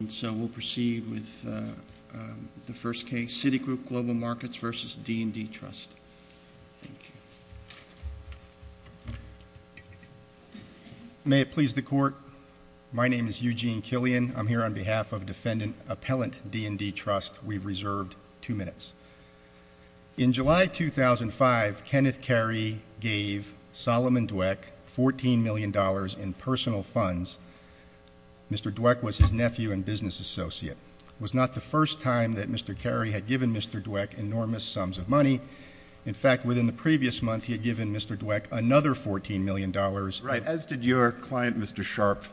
And so we'll proceed with the first case, Citigroup Global Markets v. D&D Trust. May it please the Court, my name is Eugene Killian. I'm here on behalf of Defendant Appellant D&D Trust. We've reserved two minutes. In July 2005, Kenneth Carey gave Solomon Dweck $14 million in personal funds. Mr. Dweck was his nephew and business associate. It was not the first time that Mr. Carey had given Mr. Dweck enormous sums of money. In fact, within the previous month, he had given Mr. Dweck another $14 million. Right. As did your client, Mr. Sharpe.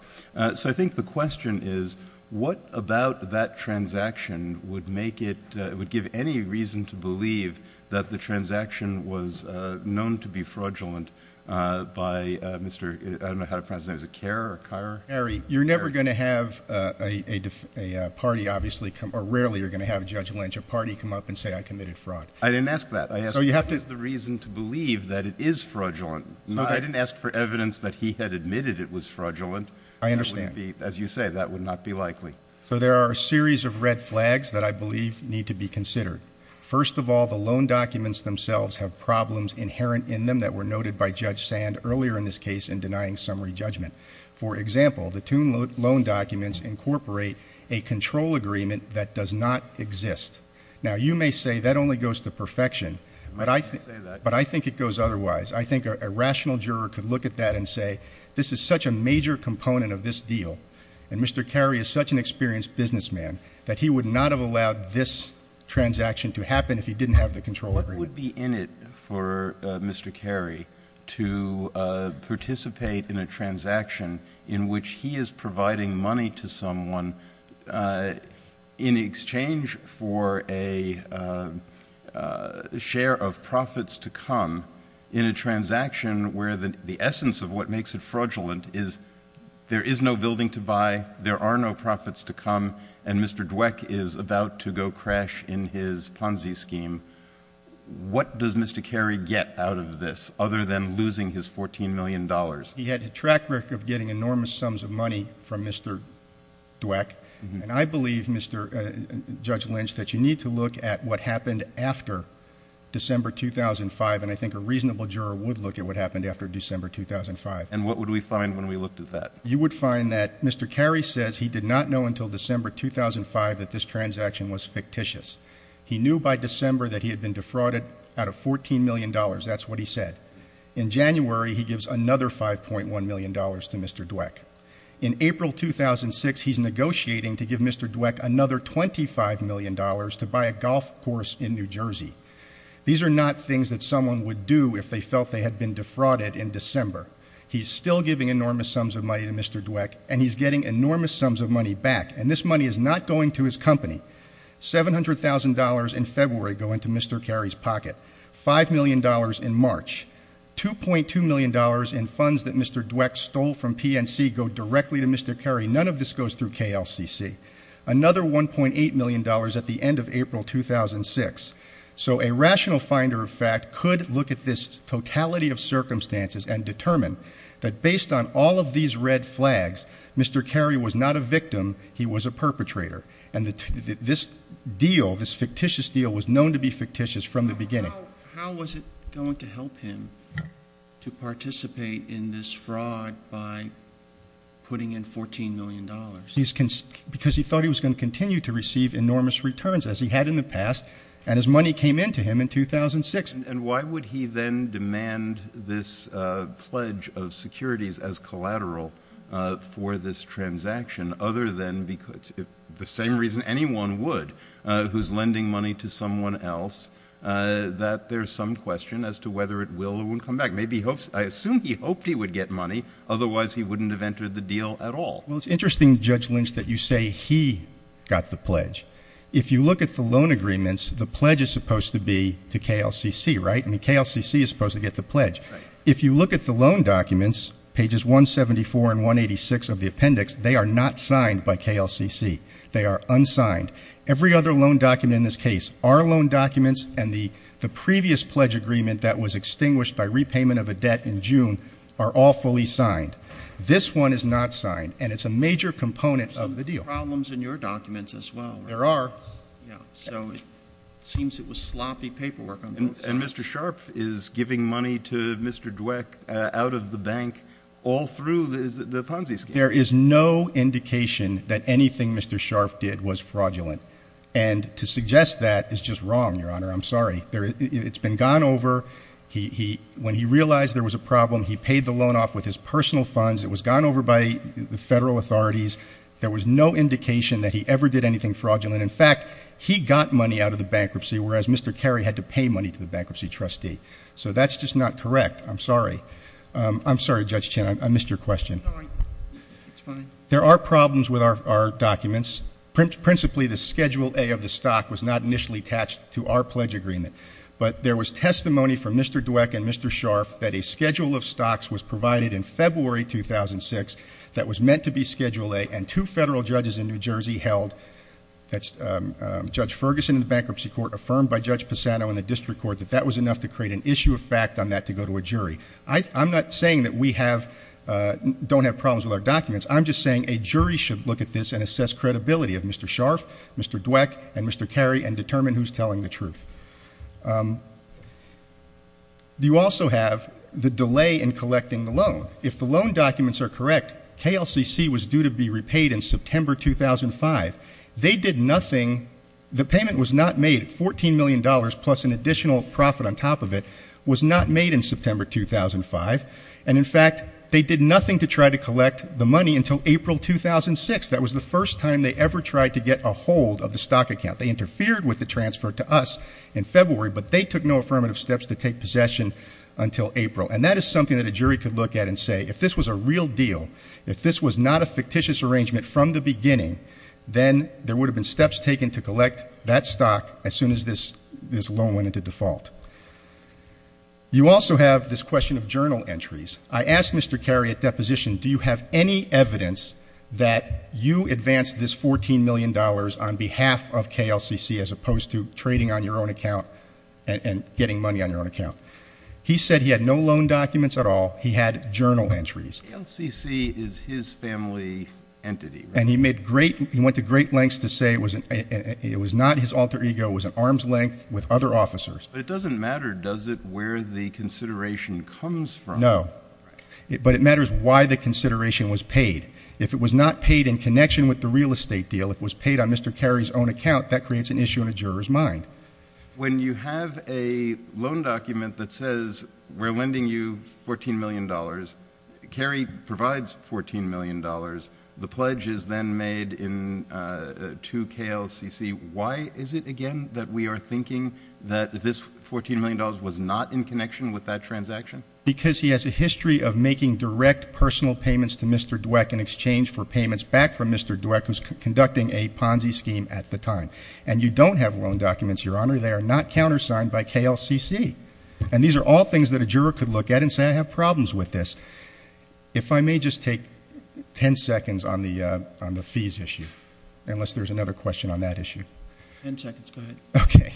So I think the question is, what about that transaction would make it, would give any reason to believe that the transaction was known to be fraudulent by Mr. I don't know how to pronounce his name, is it Carer or Carer? Carey. You're never going to have a party obviously come, or rarely you're going to have Judge Lynch or party come up and say I committed fraud. I didn't ask that. I asked what is the reason to believe that it is fraudulent. I didn't ask for evidence that he had admitted it was fraudulent. I understand. As you say, that would not be likely. So there are a series of red flags that I believe need to be considered. First of all, the loan documents themselves have problems inherent in them that were noted by Judge Sand earlier in this case in denying summary judgment. For example, the two loan documents incorporate a control agreement that does not exist. Now, you may say that only goes to perfection, but I think it goes otherwise. I think a rational juror could look at that and say, this is such a major component of this deal. And Mr. Carey is such an experienced businessman that he would not have allowed this transaction to happen if he didn't have the control agreement. What would be in it for Mr. Carey to participate in a transaction in which he is providing money to someone in exchange for a share of profits to come in a transaction where the essence of what makes it fraudulent is there is no building to buy, there are no profits to come, and Mr. Dweck is about to go crash in his Ponzi scheme. What does Mr. Carey get out of this other than losing his $14 million? He had a track record of getting enormous sums of money from Mr. Dweck. And I believe, Judge Lynch, that you need to look at what happened after December 2005. And I think a reasonable juror would look at what happened after December 2005. And what would we find when we looked at that? You would find that Mr. Carey says he did not know until December 2005 that this transaction was fictitious. He knew by December that he had been defrauded out of $14 million. That's what he said. In January, he gives another $5.1 million to Mr. Dweck. In April 2006, he's negotiating to give Mr. Dweck another $25 million to buy a golf course in New Jersey. These are not things that someone would do if they felt they had been defrauded in December. He's still giving enormous sums of money to Mr. Dweck, and he's getting enormous sums of money back. And this money is not going to his company. $700,000 in February go into Mr. Carey's pocket. $5 million in March. $2.2 million in funds that Mr. Dweck stole from PNC go directly to Mr. Carey. None of this goes through KLCC. Another $1.8 million at the end of April 2006. So a rational finder of fact could look at this totality of circumstances and determine that based on all of these red flags, Mr. Carey was not a victim, he was a perpetrator. And this deal, this fictitious deal, was known to be fictitious from the beginning. How was it going to help him to participate in this fraud by putting in $14 million? Because he thought he was going to continue to receive enormous returns as he had in the past. And his money came into him in 2006. And why would he then demand this pledge of securities as collateral for this transaction, other than the same reason anyone would, who's lending money to someone else, that there's some question as to whether it will or won't come back. Maybe he hopes, I assume he hoped he would get money, otherwise he wouldn't have entered the deal at all. Well, it's interesting, Judge Lynch, that you say he got the pledge. If you look at the loan agreements, the pledge is supposed to be to KLCC, right? I mean, KLCC is supposed to get the pledge. If you look at the loan documents, pages 174 and 186 of the appendix, they are not signed by KLCC. They are unsigned. Every other loan document in this case, our loan documents and the previous pledge agreement that was extinguished by repayment of a debt in June are all fully signed. This one is not signed, and it's a major component of the deal. Problems in your documents as well. There are. Yeah, so it seems it was sloppy paperwork on both sides. And Mr. Sharpe is giving money to Mr. Dweck out of the bank all through the Ponzi scheme. There is no indication that anything Mr. Sharpe did was fraudulent. And to suggest that is just wrong, Your Honor. I'm sorry. It's been gone over. When he realized there was a problem, he paid the loan off with his personal funds. It was gone over by the federal authorities. There was no indication that he ever did anything fraudulent. In fact, he got money out of the bankruptcy, whereas Mr. Carey had to pay money to the bankruptcy trustee. So that's just not correct. I'm sorry. I'm sorry, Judge Chin. I missed your question. It's fine. There are problems with our documents. Principally, the Schedule A of the stock was not initially attached to our pledge agreement. But there was testimony from Mr. Dweck and Mr. Sharpe that a schedule of stocks was provided in February 2006 that was meant to be Schedule A. And two federal judges in New Jersey held, Judge Ferguson in the Bankruptcy Court affirmed by Judge Pisano in the District Court, that that was enough to create an issue of fact on that to go to a jury. I'm not saying that we don't have problems with our documents. I'm just saying a jury should look at this and assess credibility of Mr. Sharpe, Mr. Dweck, and Mr. Carey, and determine who's telling the truth. You also have the delay in collecting the loan. If the loan documents are correct, KLCC was due to be repaid in September 2005. They did nothing. The payment was not made. $14 million plus an additional profit on top of it was not made in September 2005. And in fact, they did nothing to try to collect the money until April 2006. That was the first time they ever tried to get a hold of the stock account. They interfered with the transfer to us in February, but they took no affirmative steps to take possession until April. And that is something that a jury could look at and say, if this was a real deal, if this was not a fictitious arrangement from the beginning, then there would have been steps taken to collect that stock as soon as this loan went into default. You also have this question of journal entries. I asked Mr. Carey at deposition, do you have any evidence that you advanced this $14 million on behalf of KLCC, as opposed to trading on your own account and getting money on your own account? He said he had no loan documents at all. He had journal entries. KLCC is his family entity. And he went to great lengths to say it was not his alter ego. It was at arm's length with other officers. But it doesn't matter, does it, where the consideration comes from? No. But it matters why the consideration was paid. If it was not paid in connection with the real estate deal, if it was paid on Mr. Carey's own account, that creates an issue in a juror's mind. When you have a loan document that says we're lending you $14 million, Carey provides $14 million, the pledge is then made to KLCC. Why is it, again, that we are thinking that this $14 million was not in connection with that transaction? Because he has a history of making direct personal payments to Mr. Dweck in exchange for payments back from Mr. Dweck, who's conducting a Ponzi scheme at the time. And you don't have loan documents, Your Honor. They are not countersigned by KLCC. And these are all things that a juror could look at and say, I have problems with this. If I may just take ten seconds on the fees issue, unless there's another question on that issue. Ten seconds, go ahead. Okay.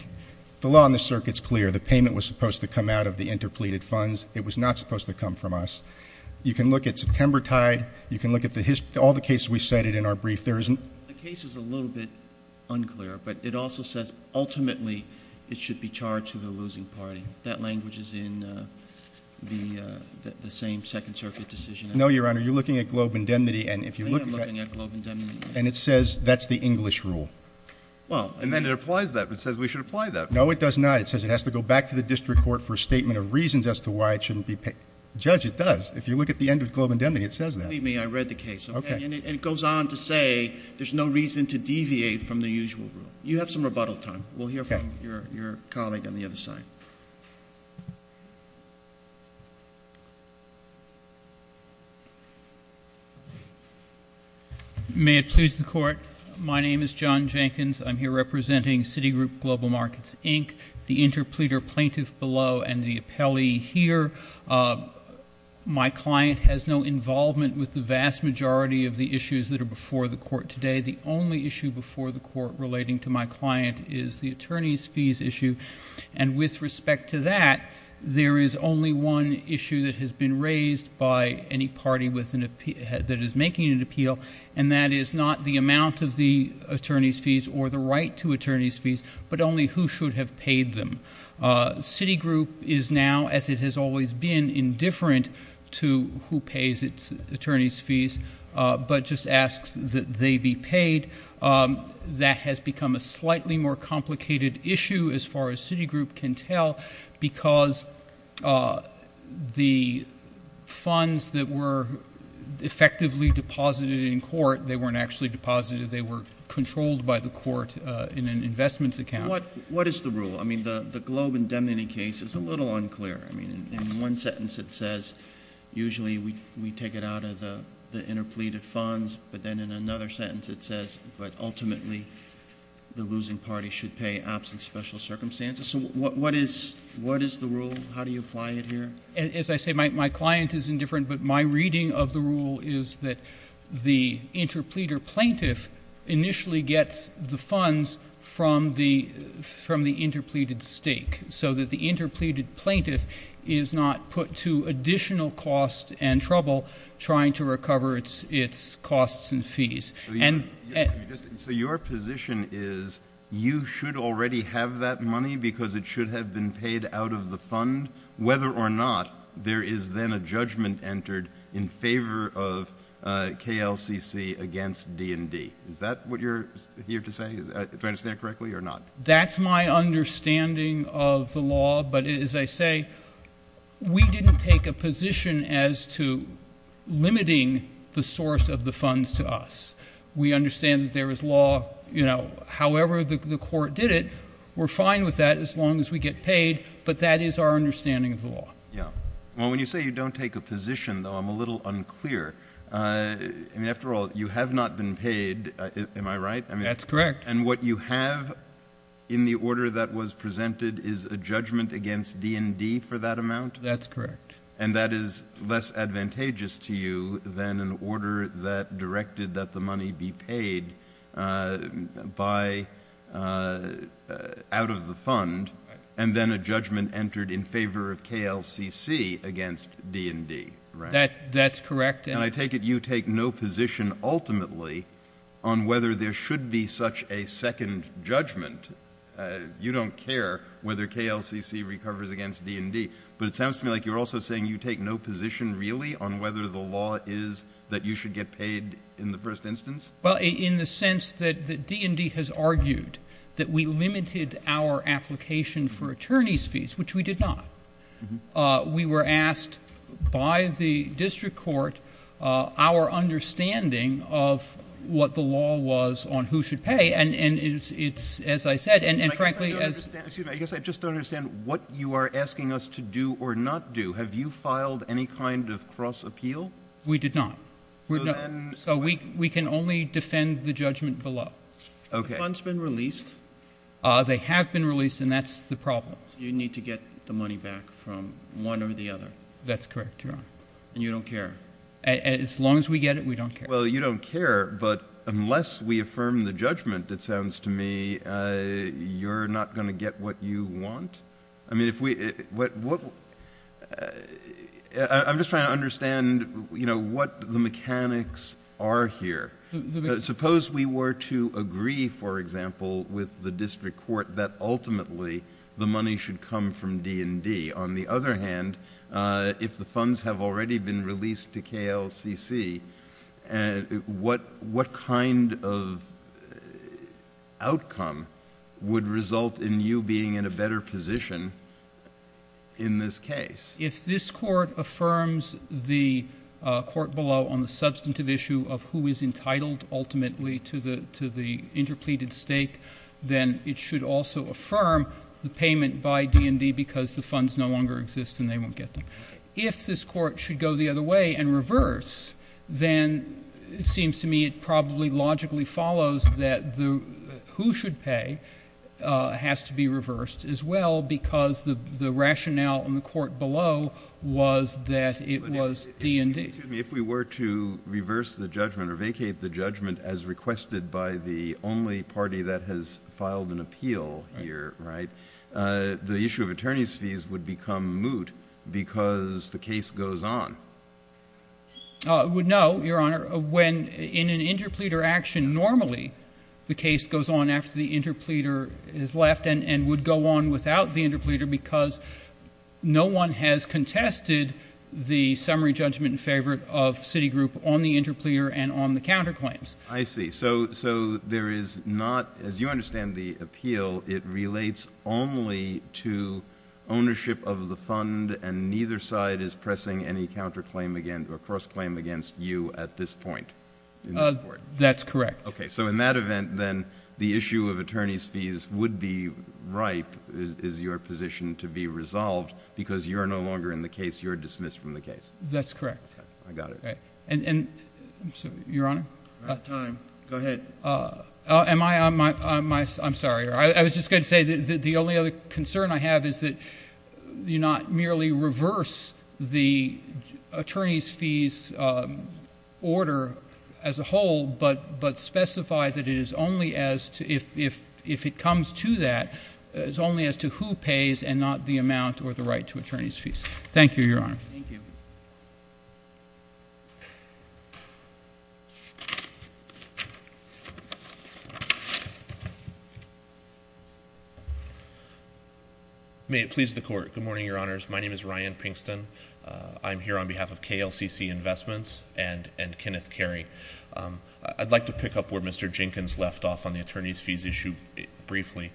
The law on the circuit's clear. The payment was supposed to come out of the interpleaded funds. It was not supposed to come from us. You can look at September Tide. You can look at all the cases we cited in our brief. There isn't- The case is a little bit unclear, but it also says ultimately it should be charged to the losing party. That language is in the same Second Circuit decision. No, Your Honor. You're looking at globe indemnity, and if you look at- I am looking at globe indemnity. And it says that's the English rule. And then it applies that. It says we should apply that. No, it does not. It says it has to go back to the district court for a statement of reasons as to why it shouldn't be paid. Judge, it does. If you look at the end of globe indemnity, it says that. Believe me, I read the case. Okay. And it goes on to say there's no reason to deviate from the usual rule. You have some rebuttal time. We'll hear from your colleague on the other side. May it please the court. My name is John Jenkins. I'm here representing Citigroup Global Markets, Inc., the interpleader plaintiff below, and the appellee here. My client has no involvement with the vast majority of the issues that are before the court today. The only issue before the court relating to my client is the attorney's fees issue. And with respect to that, there is only one issue that has been raised by any party that is making an appeal. And that is not the amount of the attorney's fees or the right to attorney's fees, but only who should have paid them. Citigroup is now, as it has always been, indifferent to who pays its attorney's fees, but just asks that they be paid. That has become a slightly more complicated issue, as far as Citigroup can tell, because the funds that were effectively deposited in court, they weren't actually deposited. They were controlled by the court in an investments account. What is the rule? I mean, the Globe indemnity case is a little unclear. I mean, in one sentence it says, usually we take it out of the interpleaded funds. But then in another sentence it says, but ultimately the losing party should pay absent special circumstances. So what is the rule? How do you apply it here? As I say, my client is indifferent, but my reading of the rule is that the interpleader plaintiff initially gets the funds from the interpleaded stake. So that the interpleaded plaintiff is not put to additional cost and trouble trying to recover its costs and fees. So your position is, you should already have that money because it should have been paid out of the fund, whether or not there is then a judgment entered in favor of KLCC against D&D. Is that what you're here to say, do I understand correctly or not? That's my understanding of the law. But as I say, we didn't take a position as to limiting the source of the funds to us. We understand that there is law, however the court did it. We're fine with that as long as we get paid, but that is our understanding of the law. Yeah. Well, when you say you don't take a position, though, I'm a little unclear. I mean, after all, you have not been paid, am I right? That's correct. And what you have in the order that was presented is a judgment against D&D for that amount? That's correct. And that is less advantageous to you than an order that directed that the money be paid out of the fund, and then a judgment entered in favor of KLCC against D&D, right? That's correct. And I take it you take no position ultimately on whether there should be such a second judgment. You don't care whether KLCC recovers against D&D. But it sounds to me like you're also saying you take no position really on whether the law is that you should get paid in the first instance? Well, in the sense that D&D has argued that we limited our application for attorney's fees, which we did not. We were asked by the district court our understanding of what the law was on who should pay. And it's, as I said, and frankly— I guess I just don't understand what you are asking us to do or not do. Have you filed any kind of cross-appeal? We did not. So then— So we can only defend the judgment below. Okay. The fund's been released? They have been released, and that's the problem. So you need to get the money back from one or the other? That's correct, Your Honor. And you don't care? As long as we get it, we don't care. Well, you don't care, but unless we affirm the judgment, it sounds to me, you're not going to get what you want? I mean, if we— I'm just trying to understand, you know, what the mechanics are here. Suppose we were to agree, for example, with the district court that ultimately the money should come from D&D. On the other hand, if the funds have already been released to KLCC, what kind of outcome would result in you being in a better position in this case? If this court affirms the court below on the substantive issue of who is entitled ultimately to the interpleated stake, then it should also affirm the payment by D&D because the funds no longer exist and they won't get them. If this court should go the other way and reverse, then it seems to me it probably logically follows that who should pay has to be reversed as well because the rationale in the court below was that it was D&D. Excuse me. If we were to reverse the judgment or vacate the judgment as requested by the only party that has filed an appeal here, the issue of attorney's fees would become moot because the case goes on. No, Your Honor. When in an interpleader action, normally the case goes on after the interpleader is left and would go on without the interpleader because no one has contested the summary judgment in favor of Citigroup on the interpleader and on the counterclaims. I see. So there is not, as you understand the appeal, it relates only to ownership of the fund and neither side is pressing any counterclaim against or cross-claim against you at this point in this court. That's correct. Okay. So in that event, then the issue of attorney's fees would be ripe is your position to be resolved because you're no longer in the case. You're dismissed from the case. That's correct. Okay. I got it. Okay. Your Honor? We're out of time. Go ahead. I'm sorry. I was just going to say the only other concern I have is that you not merely reverse the attorney's fees order as a whole but specify that if it comes to that, it's only as to who pays and not the amount or the right to attorney's fees. Thank you, Your Honor. Thank you. May it please the Court. Good morning, Your Honors. My name is Ryan Pinkston. I'm here on behalf of KLCC Investments and Kenneth Carey. I'd like to pick up where Mr. Jenkins left off on the attorney's fees issue briefly.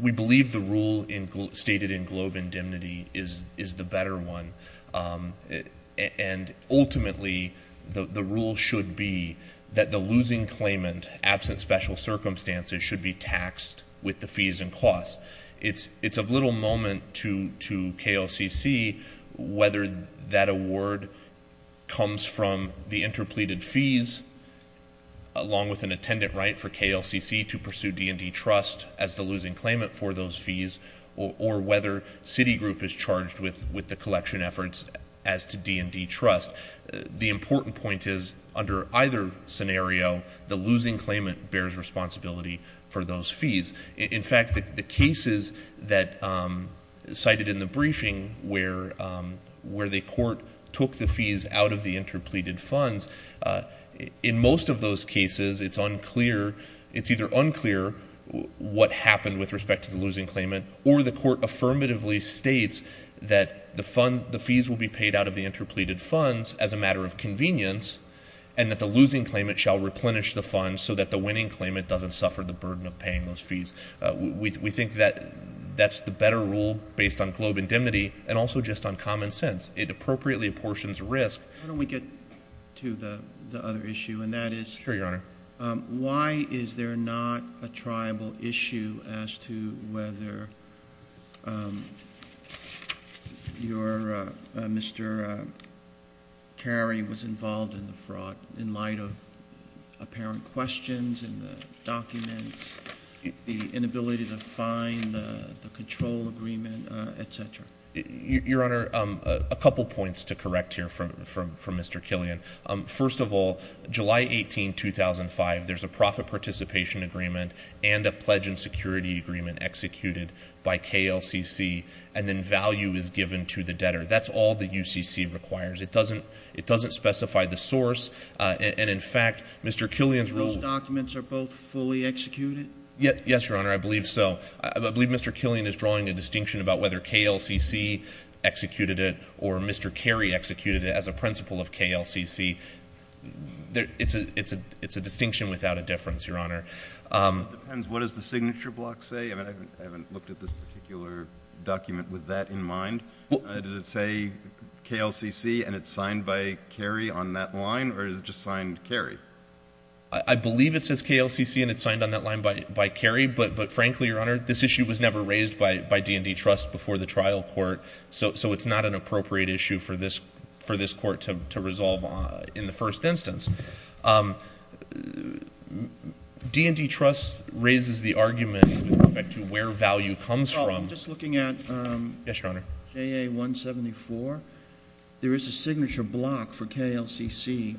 We believe the rule stated in Globe Indemnity is the better one. And ultimately, the rule should be that the losing claimant, absent special circumstances, should be taxed with the fees and costs. It's of little moment to KLCC whether that award comes from the interpleaded fees along with an attendant right for KLCC to pursue D&D trust as the losing claimant for those fees or whether Citigroup is charged with the collection efforts as to D&D trust. The important point is under either scenario, the losing claimant bears responsibility for those fees. In fact, the cases that cited in the briefing where the court took the fees out of the interpleaded funds, in most of those cases, it's unclear, it's either unclear what happened with respect to the losing claimant or the court affirmatively states that the fees will be paid out of the interpleaded funds as a matter of convenience and that the losing claimant shall replenish the funds so that the winning claimant doesn't suffer the burden of paying those fees. We think that that's the better rule based on Globe Indemnity and also just on common sense. It appropriately apportions risk. How do we get to the other issue and that is- Sure, Your Honor. Why is there not a tribal issue as to whether your Mr. Carey was involved in the fraud in light of apparent questions in the documents, the inability to find the control agreement, etc.? Your Honor, a couple points to correct here from Mr. Killian. First of all, July 18, 2005, there's a profit participation agreement and a pledge in security agreement executed by KLCC and then value is given to the debtor. That's all that UCC requires. It doesn't specify the source and in fact, Mr. Killian's rule- Those documents are both fully executed? Yes, Your Honor, I believe so. I believe Mr. Killian is drawing a distinction about whether KLCC executed it or Mr. Carey executed it as a principle of KLCC. It's a distinction without a difference, Your Honor. It depends. What does the signature block say? I haven't looked at this particular document with that in mind. Does it say KLCC and it's signed by Carey on that line or is it just signed Carey? I believe it says KLCC and it's signed on that line by Carey but frankly, Your Honor, this issue was never raised by D&D Trust before the trial court so it's not an appropriate issue for this court to resolve in the first instance. D&D Trust raises the argument with respect to where value comes from- Well, I'm just looking at- Yes, Your Honor. JA 174. There is a signature block for KLCC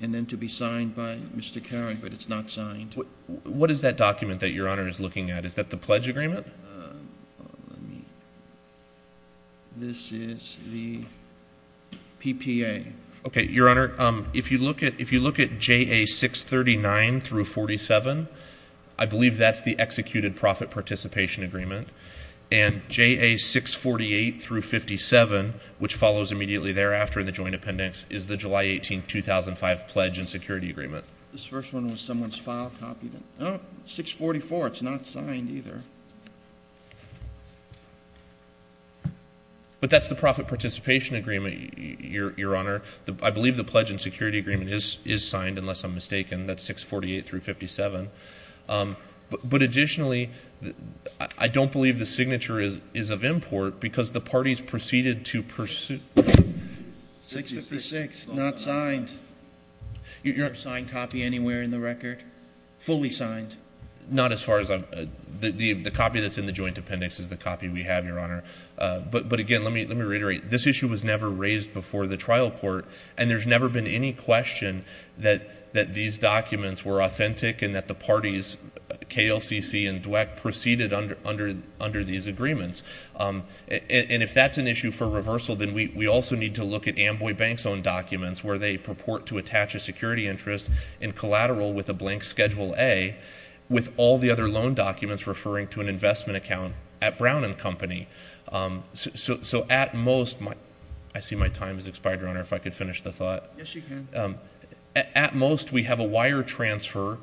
and then to be signed by Mr. Carey but it's not signed. What is that document that Your Honor is looking at? Is that the pledge agreement? This is the PPA. Okay, Your Honor. If you look at JA 639-47, I believe that's the executed profit participation agreement and JA 648-57, which follows immediately thereafter in the joint appendix, is the July 18, 2005 pledge and security agreement. This first one was someone's file copy. No, 644, it's not signed either. But that's the profit participation agreement, Your Honor. I believe the pledge and security agreement is signed unless I'm mistaken. That's 648-57. But additionally, I don't believe the signature is of import because the parties proceeded to pursue- 656, not signed. You don't have a signed copy anywhere in the record? Fully signed? Not as far as I'm- The copy that's in the joint appendix is the copy we have, Your Honor. But again, let me reiterate, this issue was never raised before the trial court and there's never been any question that these documents were authentic and that the parties, KLCC and Dweck, proceeded under these agreements. And if that's an issue for reversal, then we also need to look at Amboy Bank's own documents where they purport to attach a security interest in collateral with a blank Schedule A with all the other loan documents referring to an investment account at Brown & Company. So at most- I see my time has expired, Your Honor, if I could finish the thought. Yes, you can. At most, we have a wire transfer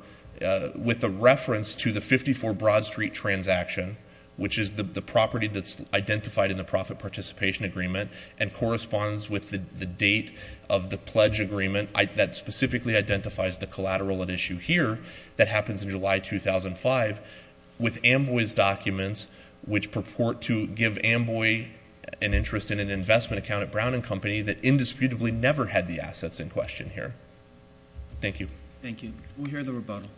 with a reference to the 54 Broad Street transaction which is the property that's identified in the profit participation agreement and corresponds with the date of the pledge agreement that specifically identifies the collateral at issue here that happens in July 2005 with Amboy's documents which purport to give Amboy an interest in an investment account at Brown & Company that indisputably never had the assets in question here. Thank you. Thank you. We'll hear the rebuttal.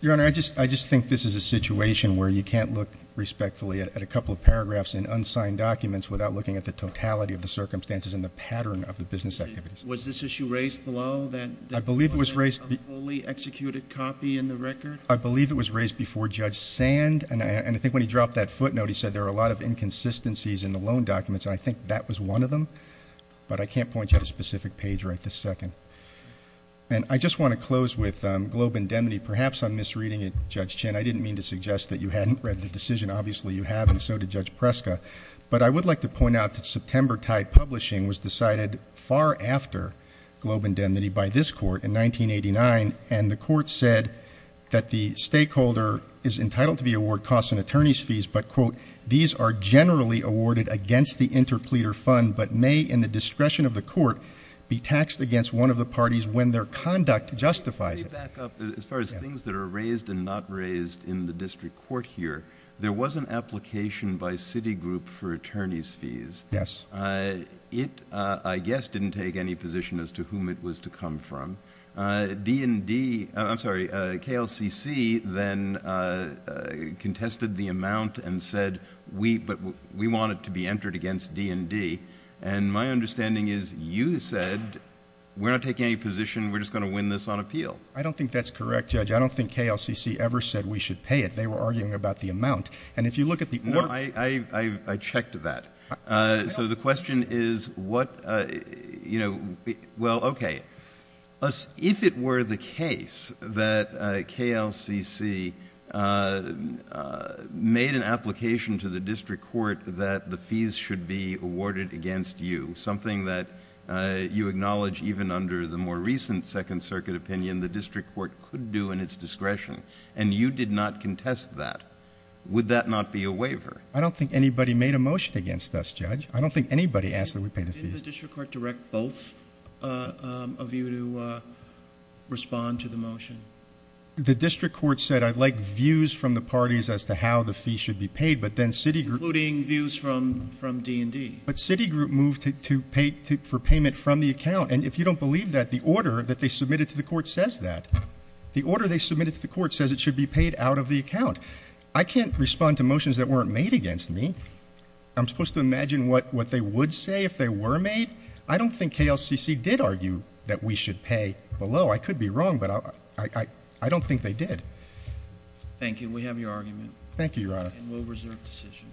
Your Honor, I just think this is a situation where you can't look respectfully at a couple of paragraphs in unsigned documents without looking at the totality of the circumstances and the pattern of the business activities. Was this issue raised below that- I believe it was raised- A fully executed copy in the record? I believe it was raised before Judge Sand, and I think when he dropped that footnote, he said there are a lot of inconsistencies in the loan documents, and I think that was one of them. But I can't point you at a specific page right this second. And I just want to close with Globe Indemnity. Perhaps I'm misreading it, Judge Chin. I didn't mean to suggest that you hadn't read the decision. Obviously, you have, and so did Judge Preska. But I would like to point out that September tied publishing was decided far after Globe Indemnity by this court in 1989, and the court said that the stakeholder is entitled to be awarded costs and attorney's fees, but, quote, fees are generally awarded against the interpleader fund but may, in the discretion of the court, be taxed against one of the parties when their conduct justifies it. Let me back up. As far as things that are raised and not raised in the district court here, there was an application by Citigroup for attorney's fees. Yes. It, I guess, didn't take any position as to whom it was to come from. D&D, I'm sorry, KLCC then contested the amount and said we, but we want it to be entered against D&D. And my understanding is you said we're not taking any position, we're just going to win this on appeal. I don't think that's correct, Judge. I don't think KLCC ever said we should pay it. They were arguing about the amount. And if you look at the order. I checked that. So the question is what, you know, well, okay. If it were the case that KLCC made an application to the district court that the fees should be awarded against you, something that you acknowledge even under the more recent Second Circuit opinion the district court could do in its discretion, and you did not contest that, would that not be a waiver? I don't think anybody made a motion against us, Judge. I don't think anybody asked that we pay the fees. Did the district court direct both of you to respond to the motion? The district court said I'd like views from the parties as to how the fees should be paid, but then city group. Including views from D&D. But city group moved for payment from the account. And if you don't believe that, the order that they submitted to the court says that. The order they submitted to the court says it should be paid out of the account. I can't respond to motions that weren't made against me. I'm supposed to imagine what they would say if they were made? I don't think KLCC did argue that we should pay below. I could be wrong, but I don't think they did. Thank you. We have your argument. Thank you, Your Honor. And we'll reserve decision.